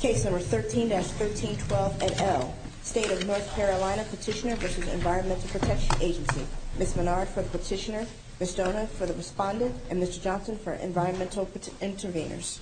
Case number 13-1312 et al. State of North Carolina Petitioner v. Environmental Protection Agency. Ms. Menard for the petitioner, Ms. Dona for the respondent, and Mr. Johnson for environmental intervenors.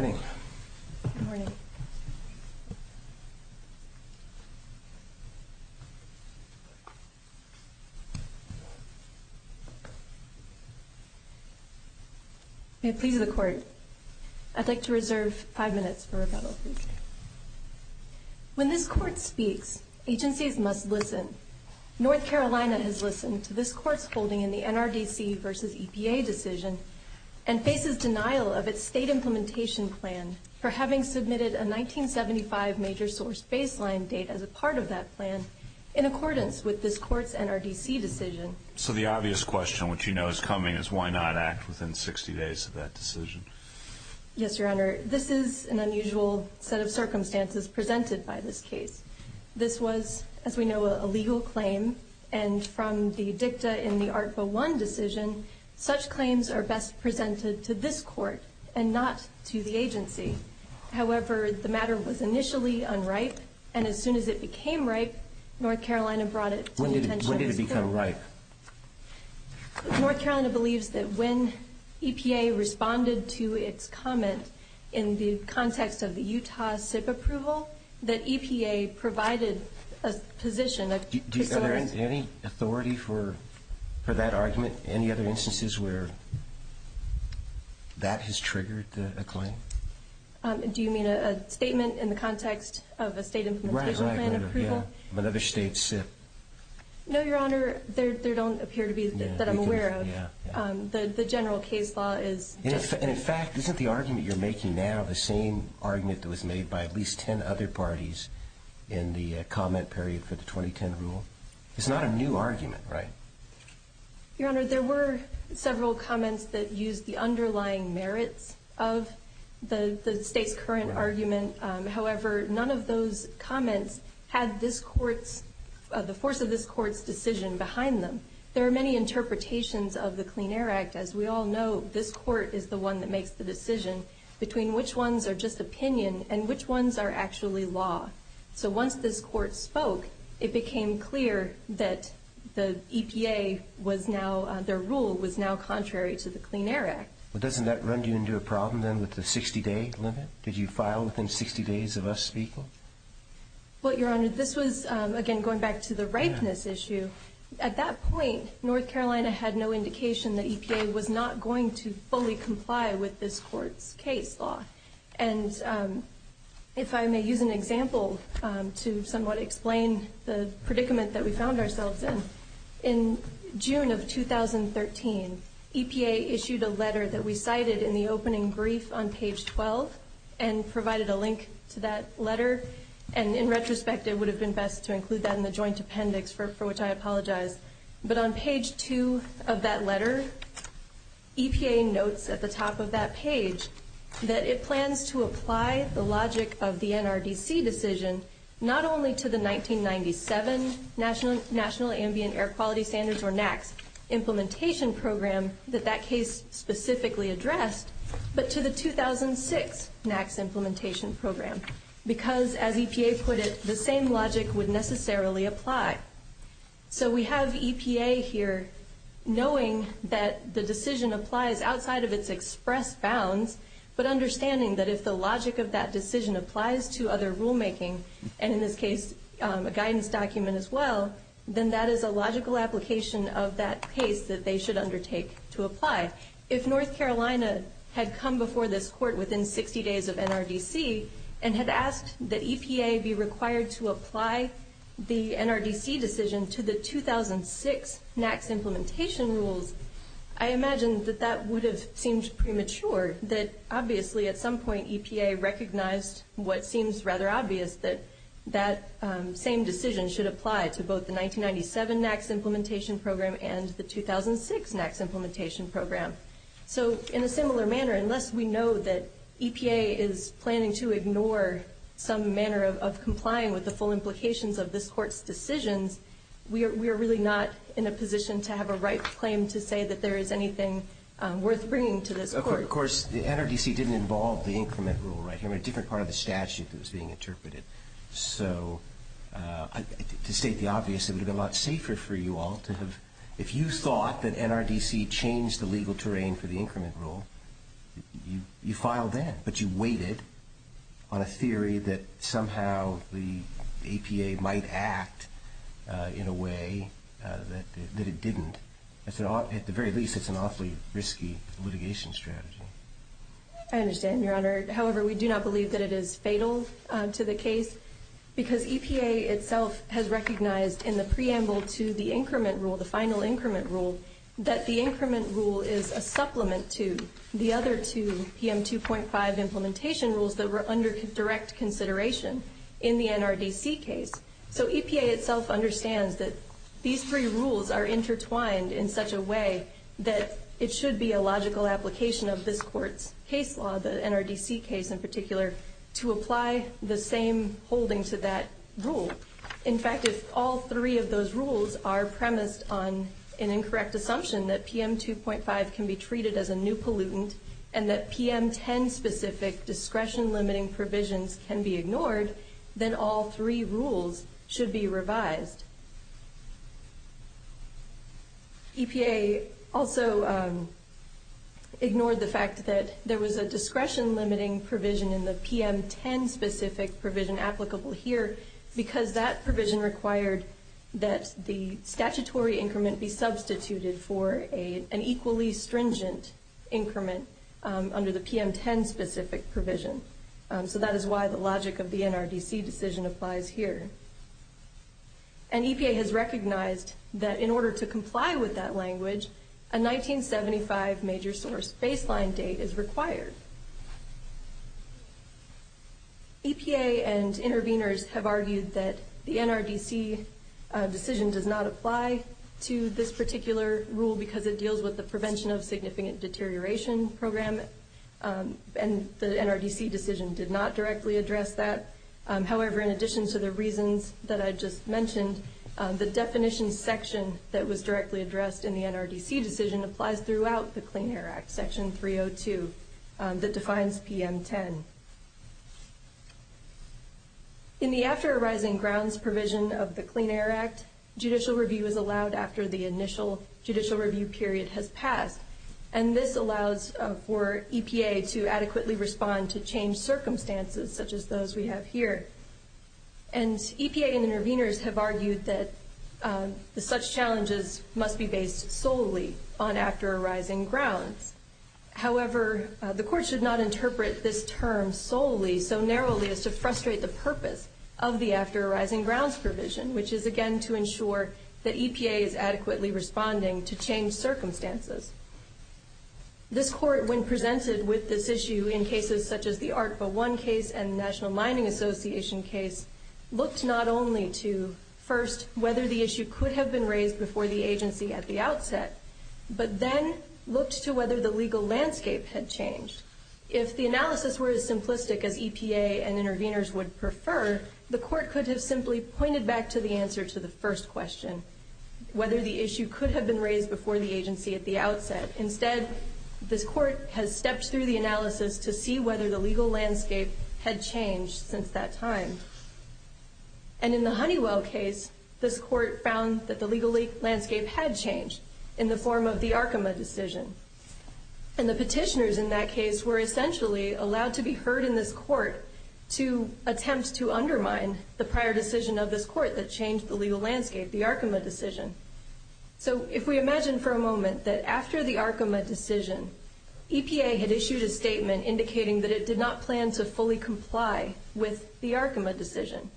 Thank you. Thank you. Thank you. Thank you. Thank you. May it please the Court, I'd like to reserve five minutes for rebuttal. When this Court speaks, agencies must listen. North Carolina has listened to this Court's holding in the NRDC v. EPA decision and faces denial of its state implementation plan for having submitted a 1975 major source baseline date as a part of that plan in accordance with this Court's NRDC decision. So the obvious question, which you know is coming, is why not act within 60 days of that decision? Yes, Your Honor, this is an unusual set of circumstances presented by this case. This was, as we know, a legal claim, and from the dicta in the Art Bill 1 decision, such claims are best presented to this Court and not to the agency. However, the matter was initially unripe, and as soon as it became ripe, North Carolina brought it to the attention of this Court. When did it become ripe? North Carolina believes that when EPA responded to its comment in the context of the Utah SIP approval, that EPA provided a position. Are there any authority for that argument? Any other instances where that has triggered a claim? Do you mean a statement in the context of a state implementation plan approval? Right, right, yeah. Another state SIP. No, Your Honor, there don't appear to be that I'm aware of. Yeah, yeah. The general case law is different. In fact, isn't the argument you're making now the same argument that was made by at least 10 other parties in the comment period for the 2010 rule? It's not a new argument, right? Your Honor, there were several comments that used the underlying merits of the state's current argument. However, none of those comments had the force of this Court's decision behind them. There are many interpretations of the Clean Air Act. As we all know, this Court is the one that makes the decision between which ones are just opinion and which ones are actually law. So once this Court spoke, it became clear that the EPA was now, their rule was now contrary to the Clean Air Act. Well, doesn't that run you into a problem then with the 60-day limit? Did you file within 60 days of us speaking? Well, Your Honor, this was, again, going back to the ripeness issue. At that point, North Carolina had no indication that EPA was not going to fully comply with this Court's case law. And if I may use an example to somewhat explain the predicament that we found ourselves in, in June of 2013, EPA issued a letter that we cited in the opening brief on page 12 And in retrospect, it would have been best to include that in the joint appendix, for which I apologize. But on page 2 of that letter, EPA notes at the top of that page that it plans to apply the logic of the NRDC decision not only to the 1997 National Ambient Air Quality Standards, or NAAQS, implementation program that that case specifically addressed, but to the 2006 NAAQS implementation program. Because, as EPA put it, the same logic would necessarily apply. So we have EPA here knowing that the decision applies outside of its express bounds, but understanding that if the logic of that decision applies to other rulemaking, and in this case, a guidance document as well, then that is a logical application of that case that they should undertake to apply. If North Carolina had come before this Court within 60 days of NRDC and had asked that EPA be required to apply the NRDC decision to the 2006 NAAQS implementation rules, I imagine that that would have seemed premature. That obviously, at some point, EPA recognized what seems rather obvious, that that same decision should apply to both the 1997 NAAQS implementation program and the 2006 NAAQS implementation program. So in a similar manner, unless we know that EPA is planning to ignore some manner of complying with the full implications of this Court's decisions, we are really not in a position to have a right claim to say that there is anything worth bringing to this Court. Of course, the NRDC didn't involve the increment rule right here, a different part of the statute that was being interpreted. So to state the obvious, it would have been a lot safer for you all to have, if you thought that NRDC changed the legal terrain for the increment rule, you filed then, but you waited on a theory that somehow the EPA might act in a way that it didn't. At the very least, it's an awfully risky litigation strategy. I understand, Your Honor. However, we do not believe that it is fatal to the case, because EPA itself has recognized in the preamble to the increment rule, the final increment rule, that the increment rule is a supplement to the other two PM 2.5 implementation rules that were under direct consideration in the NRDC case. So EPA itself understands that these three rules are intertwined in such a way that it should be a logical application of this Court's case law, the NRDC case in particular, to apply the same holding to that rule. In fact, if all three of those rules are premised on an incorrect assumption that PM 2.5 can be treated as a new pollutant and that PM 10-specific discretion-limiting provisions can be ignored, then all three rules should be revised. EPA also ignored the fact that there was a discretion-limiting provision in the PM 10-specific provision applicable here, because that provision required that the statutory increment be substituted for an equally stringent increment under the PM 10-specific provision. So that is why the logic of the NRDC decision applies here. And EPA has recognized that in order to comply with that language, a 1975 major source baseline date is required. EPA and interveners have argued that the NRDC decision does not apply to this particular rule because it deals with the prevention of significant deterioration program, and the NRDC decision did not directly address that. However, in addition to the reasons that I just mentioned, the definition section that was directly addressed in the NRDC decision applies throughout the Clean Air Act, Section 302, that defines PM 10. In the after-arising grounds provision of the Clean Air Act, judicial review is allowed after the initial judicial review period has passed, and this allows for EPA to adequately respond to changed circumstances, such as those we have here. And EPA and interveners have argued that such challenges must be based solely on after-arising grounds. However, the Court should not interpret this term solely, so narrowly, as to frustrate the purpose of the after-arising grounds provision, which is, again, to ensure that EPA is adequately responding to changed circumstances. This Court, when presented with this issue in cases such as the ARCVA 1 case and the National Mining Association case, looked not only to, first, whether the issue could have been raised before the agency at the outset, but then looked to whether the legal landscape had changed. If the analysis were as simplistic as EPA and interveners would prefer, the Court could have simply pointed back to the answer to the first question, whether the issue could have been raised before the agency at the outset. Instead, this Court has stepped through the analysis to see whether the legal landscape had changed since that time. And in the Honeywell case, this Court found that the legal landscape had changed in the form of the ARCVA decision. And the petitioners in that case were essentially allowed to be heard in this court to attempt to undermine the prior decision of this court that changed the legal landscape, the ARCVA decision. So if we imagine for a moment that after the ARCVA decision, EPA had issued a statement indicating that it did not plan to fully comply with the ARCVA decision,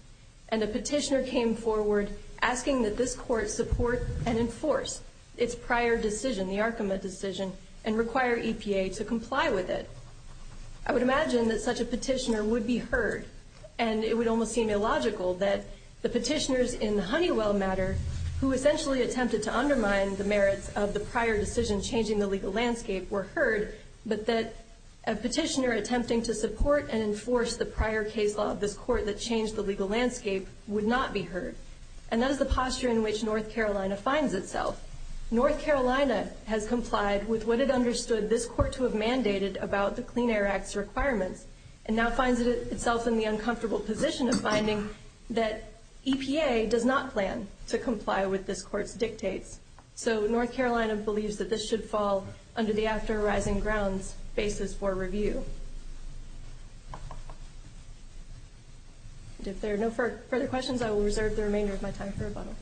and a petitioner came forward asking that this court support and enforce its prior decision, the ARCVA decision, and require EPA to comply with it. I would imagine that such a petitioner would be heard, and it would almost seem illogical that the petitioners in the Honeywell matter who essentially attempted to undermine the merits of the prior decision changing the legal landscape were heard, but that a petitioner attempting to support and enforce the prior case law of this court that changed the legal landscape would not be heard. And that is the posture in which North Carolina finds itself. North Carolina has complied with what it understood this court to have mandated about the Clean Air Act's requirements, and now finds itself in the uncomfortable position of finding that EPA does not plan to comply with this court's dictates. So North Carolina believes that this should fall under the After Rising Grounds basis for review. If there are no further questions, I will reserve the remainder of my time for rebuttal.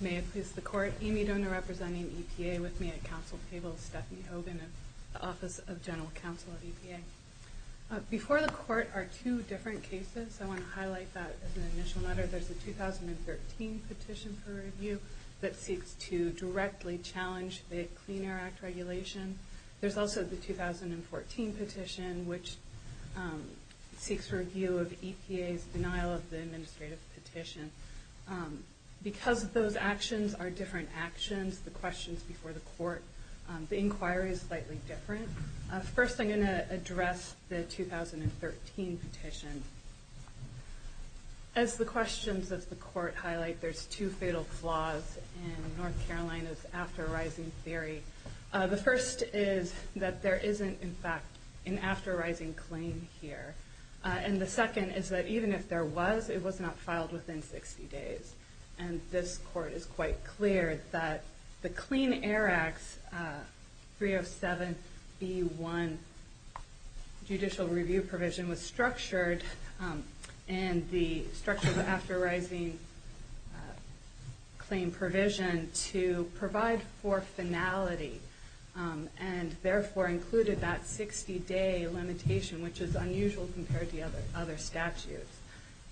May it please the Court. Amy Doaner representing EPA with me at Council table, Stephanie Hogan of the Office of General Counsel of EPA. Before the Court are two different cases. I want to highlight that as an initial matter. There's the 2013 petition for review that seeks to directly challenge the Clean Air Act regulation. There's also the 2014 petition which seeks review of EPA's denial of the administrative petition. Because those actions are different actions, the questions before the Court, the inquiry is slightly different. First, I'm going to address the 2013 petition. As the questions of the Court highlight, there's two fatal flaws in North Carolina's After Rising theory. The first is that there isn't, in fact, an After Rising claim here. And the second is that even if there was, it was not filed within 60 days. And this Court is quite clear that the Clean Air Act's 307B1 judicial review provision was structured in the structure of the After Rising claim provision to provide for finality and therefore included that 60-day limitation, which is unusual compared to other statutes.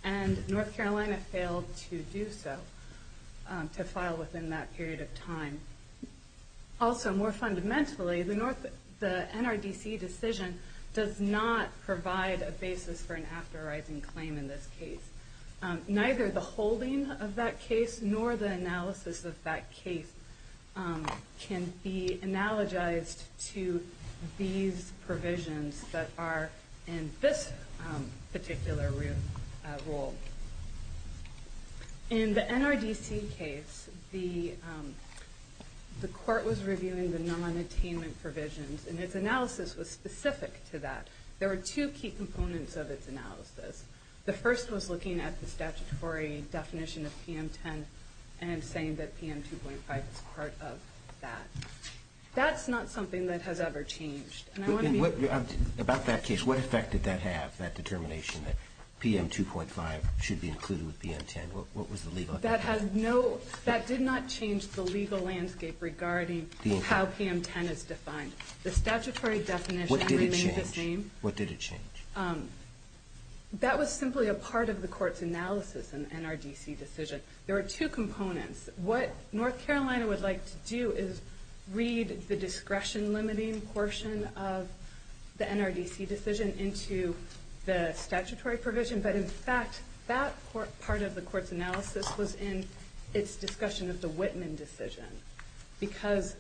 And North Carolina failed to do so, to file within that period of time. Also, more fundamentally, the NRDC decision does not provide a basis for an After Rising claim in this case. Neither the holding of that case nor the analysis of that case can be analogized to these provisions that are in this particular rule. In the NRDC case, the Court was reviewing the non-attainment provisions, and its analysis was specific to that. There were two key components of its analysis. The first was looking at the statutory definition of PM10 and saying that PM2.5 is part of that. That's not something that has ever changed. About that case, what effect did that have, that determination that PM2.5 should be included with PM10? What was the legal effect? That did not change the legal landscape regarding how PM10 is defined. The statutory definition remains the same. What did it change? That was simply a part of the Court's analysis in the NRDC decision. There were two components. What North Carolina would like to do is read the discretion-limiting portion of the NRDC decision into the statutory provision. In fact, that part of the Court's analysis was in its discussion of the Whitman decision because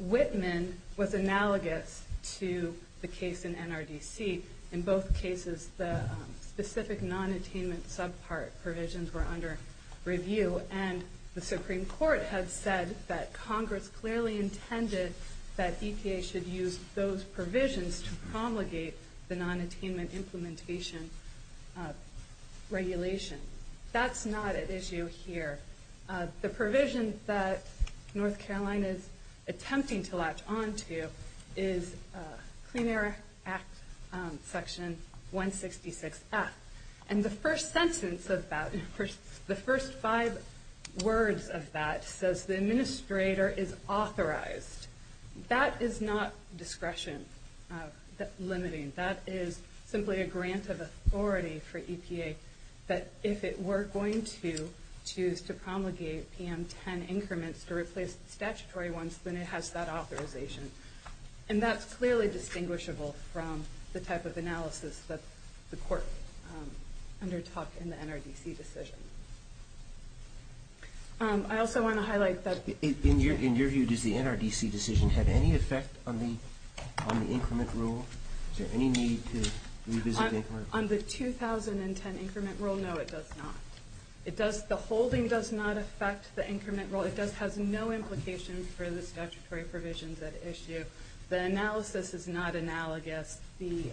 Whitman was analogous to the case in NRDC. In both cases, the specific non-attainment subpart provisions were under review, and the Supreme Court had said that Congress clearly intended that EPA should use those provisions to promulgate the non-attainment implementation regulation. That's not at issue here. The provision that North Carolina is attempting to latch onto is Clean Air Act Section 166F. The first sentence of that, the first five words of that, says the administrator is authorized. That is not discretion-limiting. That is simply a grant of authority for EPA that if it were going to choose to promulgate PM10 increments to replace the statutory ones, then it has that authorization. And that's clearly distinguishable from the type of analysis that the Court undertook in the NRDC decision. I also want to highlight that the- In your view, does the NRDC decision have any effect on the increment rule? Is there any need to revisit the increment rule? On the 2010 increment rule, no, it does not. The holding does not affect the increment rule. It has no implications for the statutory provisions at issue. The analysis is not analogous. The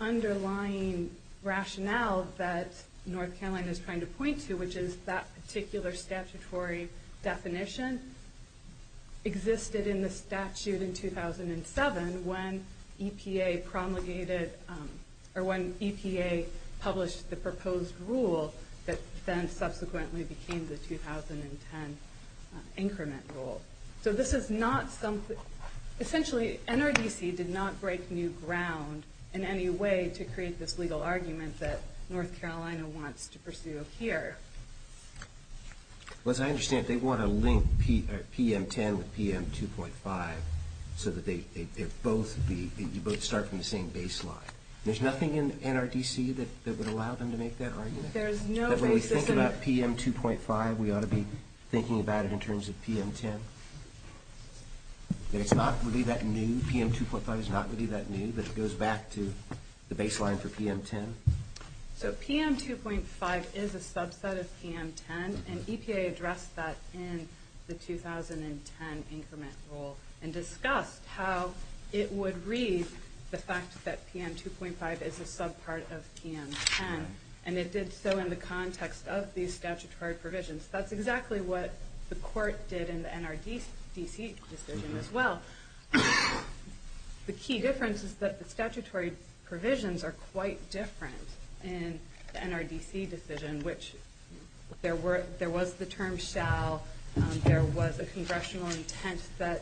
underlying rationale that North Carolina is trying to point to, which is that particular statutory definition, existed in the statute in 2007 when EPA promulgated or when EPA published the proposed rule that then subsequently became the 2010 increment rule. So this is not something- Essentially, NRDC did not break new ground in any way to create this legal argument that North Carolina wants to pursue here. As I understand it, they want to link PM10 with PM2.5 so that they both be- PM2.5. There's nothing in NRDC that would allow them to make that argument? There's no basis in- That when we think about PM2.5, we ought to be thinking about it in terms of PM10. It's not really that new. PM2.5 is not really that new, but it goes back to the baseline for PM10. So PM2.5 is a subset of PM10, and EPA addressed that in the 2010 increment rule and discussed how it would read the fact that PM2.5 is a subpart of PM10, and it did so in the context of these statutory provisions. That's exactly what the court did in the NRDC decision as well. The key difference is that the statutory provisions are quite different in the NRDC decision, which there was the term shall, there was a congressional intent that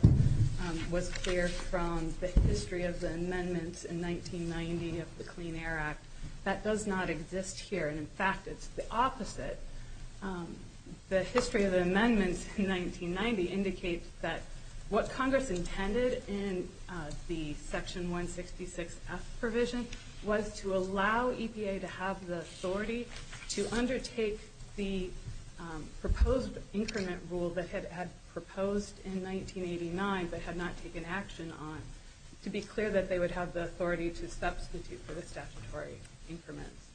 was clear from the history of the amendments in 1990 of the Clean Air Act. That does not exist here, and, in fact, it's the opposite. The history of the amendments in 1990 indicates that what Congress intended in the Section 166F provision was to allow EPA to have the authority to undertake the proposed increment rule that it had proposed in 1989 but had not taken action on to be clear that they would have the authority to substitute for the statutory increments.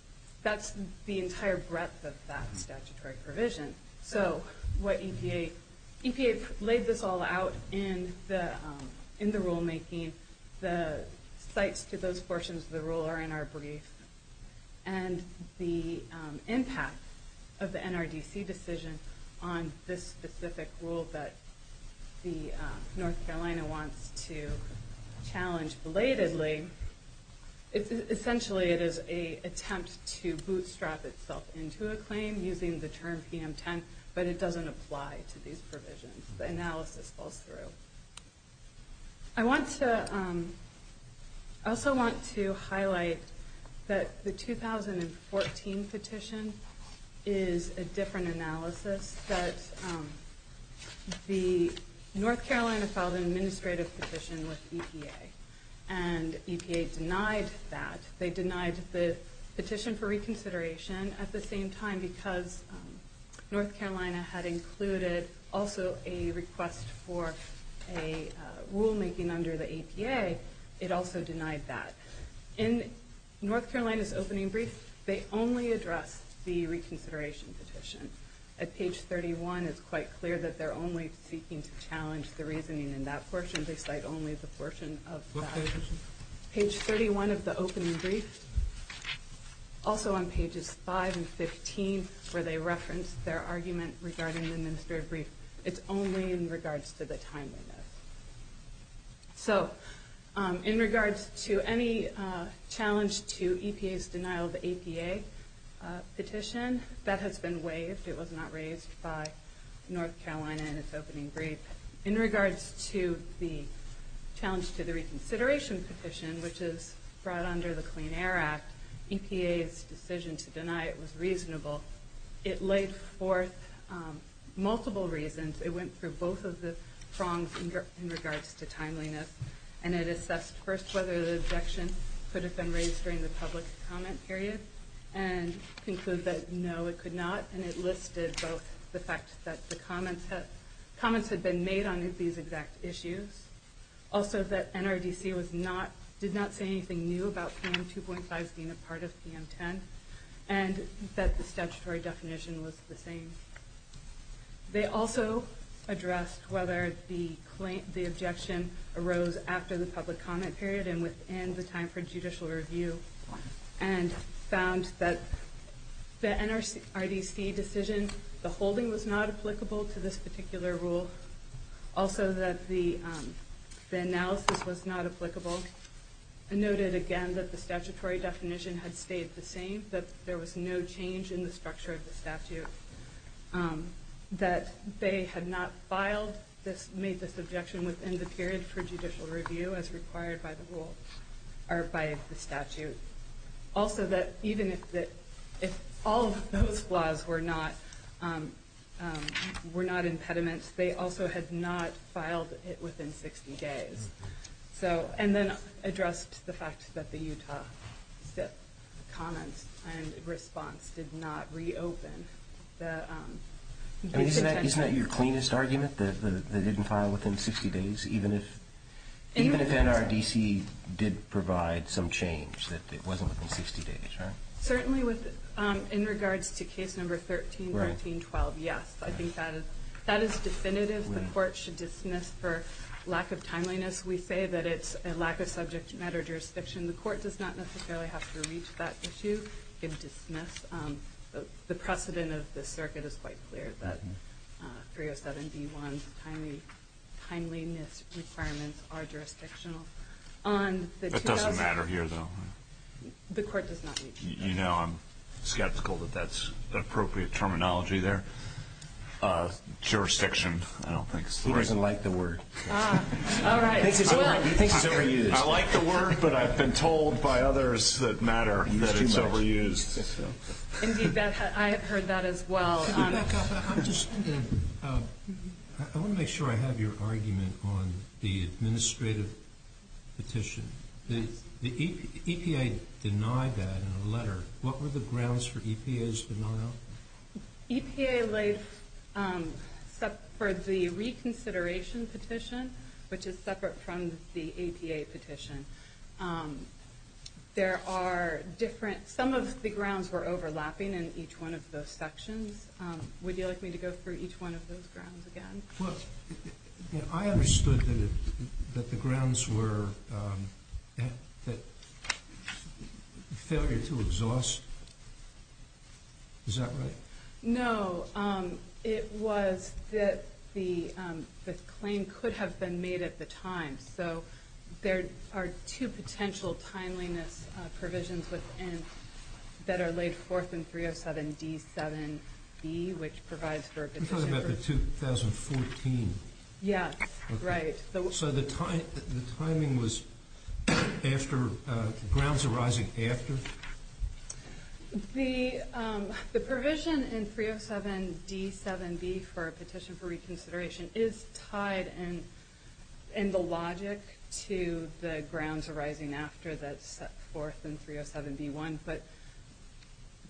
That's the entire breadth of that statutory provision. So EPA laid this all out in the rulemaking. The sites to those portions of the rule are in our brief. And the impact of the NRDC decision on this specific rule that North Carolina wants to challenge belatedly, essentially it is an attempt to bootstrap itself into a claim using the term PM10, but it doesn't apply to these provisions. The analysis falls through. I also want to highlight that the 2014 petition is a different analysis. The North Carolina filed an administrative petition with EPA, and EPA denied that. They denied the petition for reconsideration at the same time because North Carolina had included also a request for a rulemaking under the EPA. It also denied that. In North Carolina's opening brief, they only address the reconsideration petition. At page 31, it's quite clear that they're only seeking to challenge the reasoning in that portion. They cite only the portion of that. Page 31 of the opening brief, also on pages 5 and 15, where they reference their argument regarding the administrative brief, it's only in regards to the timeliness. So in regards to any challenge to EPA's denial of the APA petition, that has been waived. It was not raised by North Carolina in its opening brief. In regards to the challenge to the reconsideration petition, which is brought under the Clean Air Act, EPA's decision to deny it was reasonable. It laid forth multiple reasons. It went through both of the prongs in regards to timeliness. And it assessed first whether the objection could have been raised during the public comment period, and concluded that no, it could not. And it listed both the fact that the comments had been made on these exact issues, also that NRDC did not say anything new about PM 2.5 being a part of PM 10, and that the statutory definition was the same. They also addressed whether the objection arose after the public comment period and within the time for judicial review, and found that the NRDC decision, the holding was not applicable to this particular rule. Also that the analysis was not applicable, and noted again that the statutory definition had stayed the same, that there was no change in the structure of the statute, that they had not made this objection within the period for judicial review as required by the statute. Also that even if all of those flaws were not impediments, they also had not filed it within 60 days. And then addressed the fact that the Utah SIP comments and response did not reopen. Isn't that your cleanest argument, that it didn't file within 60 days, even if NRDC did provide some change, that it wasn't within 60 days, right? Certainly in regards to case number 13-19-12, yes. I think that is definitive. The court should dismiss for lack of timeliness. We say that it's a lack of subject matter jurisdiction. The court does not necessarily have to reach that issue and dismiss. The precedent of the circuit is quite clear, that 307-B-1's timeliness requirements are jurisdictional. That doesn't matter here, though. The court does not reach that. You know, I'm skeptical that that's appropriate terminology there. Jurisdiction, I don't think, is the right word. He doesn't like the word. All right. He thinks it's overused. I like the word, but I've been told by others that matter that it's overused. Indeed, I have heard that as well. I want to make sure I have your argument on the administrative petition. The EPA denied that in a letter. What were the grounds for EPA's denial? EPA laid for the reconsideration petition, which is separate from the EPA petition. Some of the grounds were overlapping in each one of those sections. Would you like me to go through each one of those grounds again? I understood that the grounds were failure to exhaust. Is that right? No. It was that the claim could have been made at the time. There are two potential timeliness provisions that are laid forth in 307D7B, which provides for a petition. You're talking about the 2014? Yes. Right. So the timing was grounds arising after? The provision in 307D7B for a petition for reconsideration is tied in the logic to the grounds arising after that's set forth in 307B1. But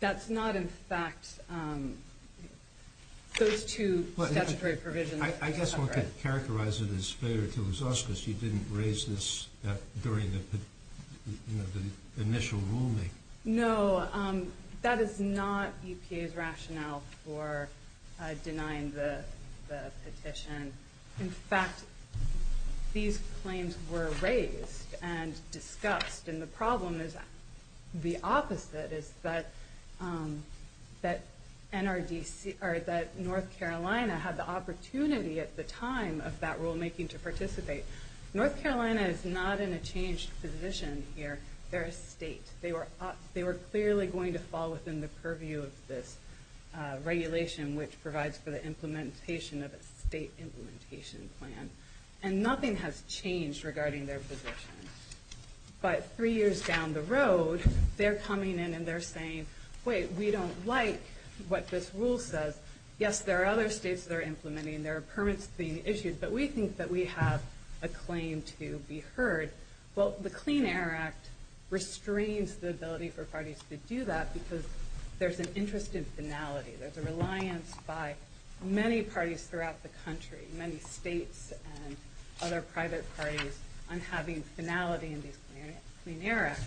that's not in fact those two statutory provisions. I guess one could characterize it as failure to exhaust because you didn't raise this during the initial ruling. No. That is not EPA's rationale for denying the petition. In fact, these claims were raised and discussed. The problem is the opposite, is that North Carolina had the opportunity at the time of that rulemaking to participate. North Carolina is not in a changed position here. They're a state. They were clearly going to fall within the purview of this regulation, which provides for the implementation of a state implementation plan. And nothing has changed regarding their position. But three years down the road, they're coming in and they're saying, wait, we don't like what this rule says. Yes, there are other states that are implementing. There are permits being issued. But we think that we have a claim to be heard. Well, the Clean Air Act restrains the ability for parties to do that because there's an interest in finality. There's a reliance by many parties throughout the country, many states and other private parties on having finality in these Clean Air Act.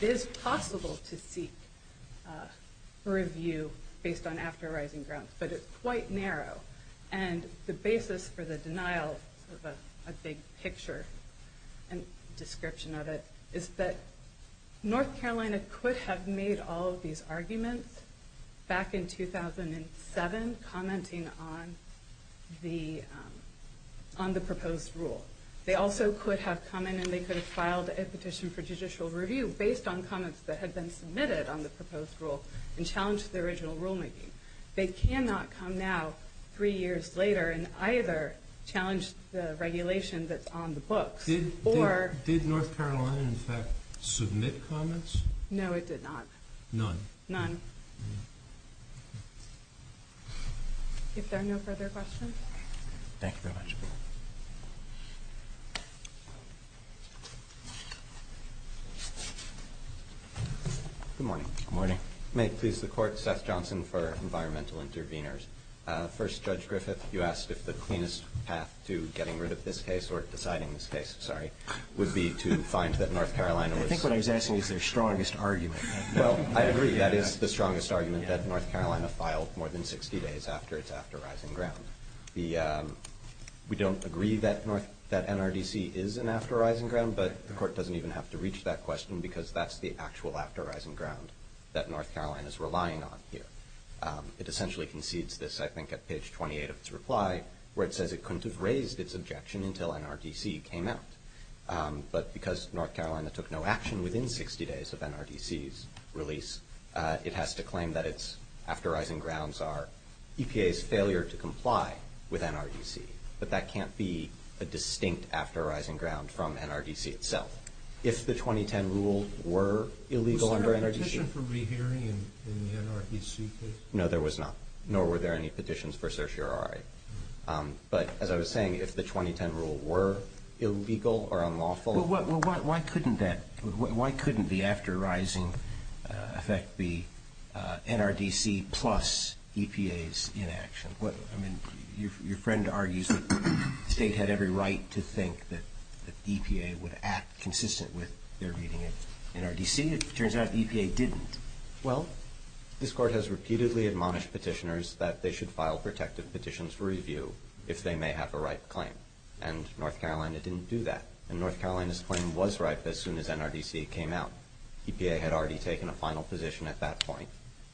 It is possible to seek a review based on after arising grounds, but it's quite narrow. And the basis for the denial of a big picture and description of it is that North Carolina could have made all of these arguments back in 2007 commenting on the proposed rule. They also could have come in and they could have filed a petition for judicial review based on comments that had been submitted on the proposed rule and challenged the original rulemaking. They cannot come now, three years later, and either challenge the regulation that's on the books or... Did North Carolina in fact submit comments? No, it did not. None? None. If there are no further questions. Thank you very much. Good morning. Good morning. May it please the Court. Seth Johnson for Environmental Interveners. First, Judge Griffith, you asked if the cleanest path to getting rid of this case or deciding this case, sorry, would be to find that North Carolina was... I think what I was asking is their strongest argument. Well, I agree. That is the strongest argument that North Carolina filed more than 60 days after its after arising ground. We don't agree that NRDC is an after arising ground, but the Court doesn't even have to reach that question because that's the actual after arising ground that North Carolina is relying on here. It essentially concedes this, I think, at page 28 of its reply where it says it couldn't have raised its objection until NRDC came out. But because North Carolina took no action within 60 days of NRDC's release, it has to claim that its after arising grounds are EPA's failure to comply with NRDC. But that can't be a distinct after arising ground from NRDC itself. If the 2010 rule were illegal under NRDC... Was there a petition for rehearing in the NRDC case? No, there was not, nor were there any petitions for certiorari. But as I was saying, if the 2010 rule were illegal or unlawful... Well, why couldn't that... Why couldn't the after arising effect be NRDC plus EPA's inaction? I mean, your friend argues that the state had every right to think that EPA would act consistent with their meeting at NRDC. It turns out EPA didn't. Well, this court has repeatedly admonished petitioners that they should file protective petitions for review if they may have a ripe claim. And North Carolina didn't do that. And North Carolina's claim was ripe as soon as NRDC came out. EPA had already taken a final position at that point.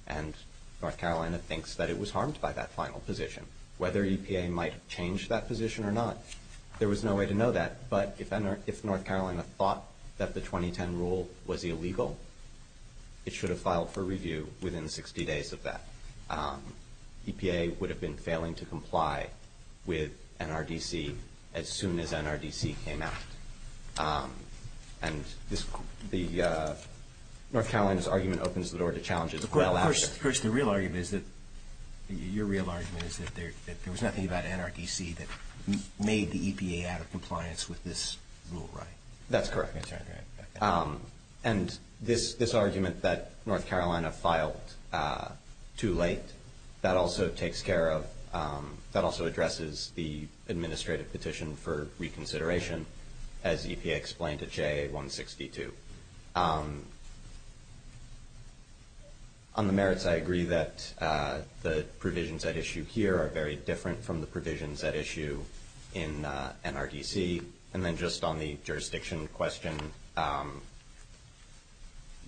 And North Carolina thinks that it was harmed by that final position. Whether EPA might have changed that position or not, there was no way to know that. But if North Carolina thought that the 2010 rule was illegal, it should have filed for review within 60 days of that. EPA would have been failing to comply with NRDC as soon as NRDC came out. And North Carolina's argument opens the door to challenges well after. The real argument is that there was nothing about NRDC that made the EPA out of compliance with this rule, right? That's correct. And this argument that North Carolina filed too late, that also takes care of, that also addresses the administrative petition for reconsideration, as EPA explained at JA162. On the merits, I agree that the provisions at issue here are very different from the provisions at issue in NRDC. And then just on the jurisdiction question,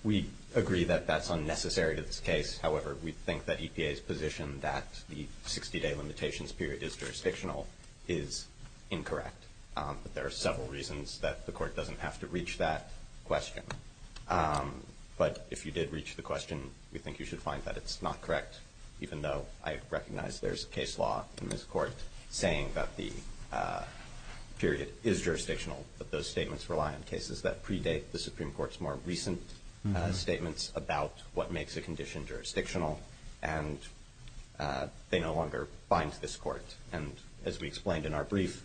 we agree that that's unnecessary to this case. However, we think that EPA's position that the 60-day limitations period is jurisdictional is incorrect. But there are several reasons that the court doesn't have to reach that question. But if you did reach the question, we think you should find that it's not correct, even though I recognize there's a case law in this court saying that the period is jurisdictional, but those statements rely on cases that predate the Supreme Court's more recent statements about what makes a condition jurisdictional. And they no longer bind this court. And as we explained in our brief,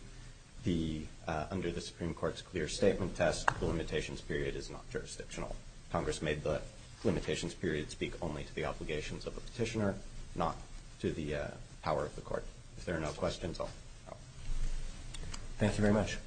under the Supreme Court's clear statement test, the limitations period is not jurisdictional. Congress made the limitations period speak only to the obligations of the petitioner, not to the power of the court. If there are no questions, I'll stop. Thank you very much.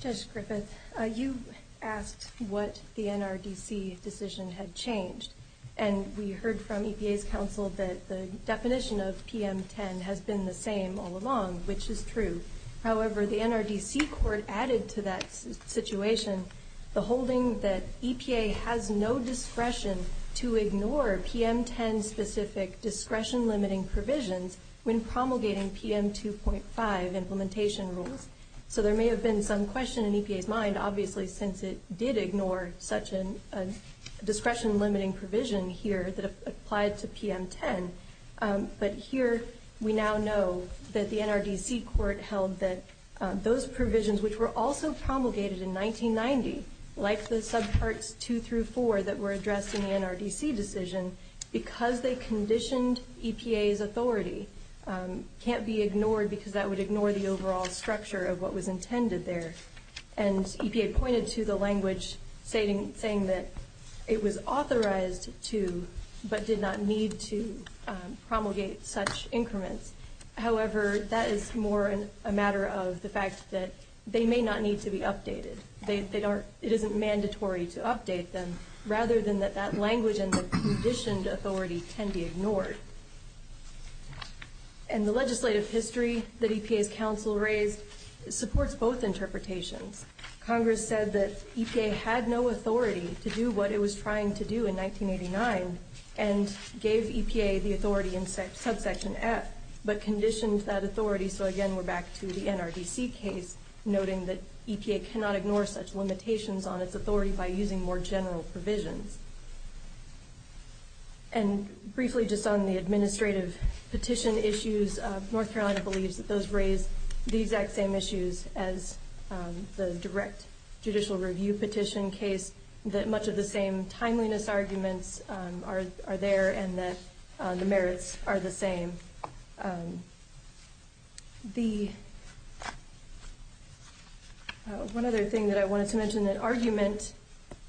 Judge Griffith, you asked what the NRDC decision had changed. And we heard from EPA's counsel that the definition of PM10 has been the same all along, which is true. However, the NRDC court added to that situation the holding that EPA has no discretion to ignore PM10-specific discretion-limiting provisions when promulgating PM2.5 implementation rules. So there may have been some question in EPA's mind, obviously, since it did ignore such a discretion-limiting provision here that applied to PM10. But here we now know that the NRDC court held that those provisions, which were also promulgated in 1990, like the subparts 2 through 4 that were addressed in the NRDC decision, because they conditioned EPA's authority, can't be ignored because that would ignore the overall structure of what was intended there. And EPA pointed to the language saying that it was authorized to, but did not need to, promulgate such increments. However, that is more a matter of the fact that they may not need to be updated. It isn't mandatory to update them, rather than that that language and the conditioned authority can be ignored. And the legislative history that EPA's counsel raised supports both interpretations. Congress said that EPA had no authority to do what it was trying to do in 1989, and gave EPA the authority in subsection F, but conditioned that authority. So again, we're back to the NRDC case, noting that EPA cannot ignore such limitations on its authority by using more general provisions. And briefly, just on the administrative petition issues, North Carolina believes that those raise the exact same issues as the direct judicial review petition case, that much of the same timeliness arguments are there, and that the merits are the same. One other thing that I wanted to mention, an argument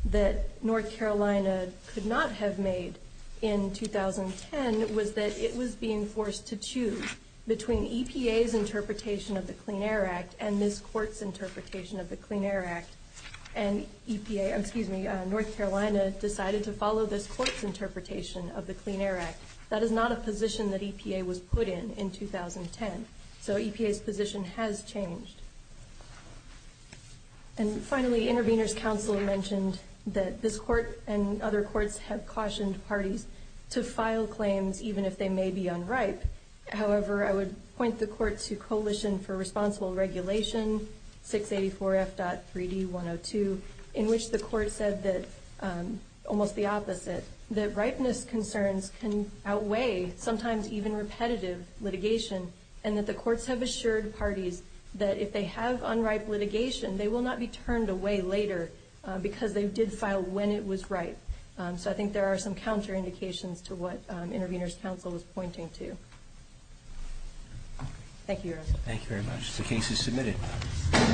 that North Carolina could not have made in 2010, was that it was being forced to choose between EPA's interpretation of the Clean Air Act, and this court's interpretation of the Clean Air Act. And EPA, excuse me, North Carolina decided to follow this court's interpretation of the Clean Air Act. That is not a position that EPA was put in, in 2010. So EPA's position has changed. And finally, intervener's counsel mentioned that this court and other courts have cautioned parties to file claims even if they may be unripe. However, I would point the court to Coalition for Responsible Regulation 684F.3D102, in which the court said that, almost the opposite, that ripeness concerns can outweigh sometimes even repetitive litigation, and that the courts have assured parties that if they have unripe litigation, they will not be turned away later because they did file when it was ripe. So I think there are some counterindications to what intervener's counsel was pointing to. Thank you, Your Honor. Thank you very much. The case is submitted.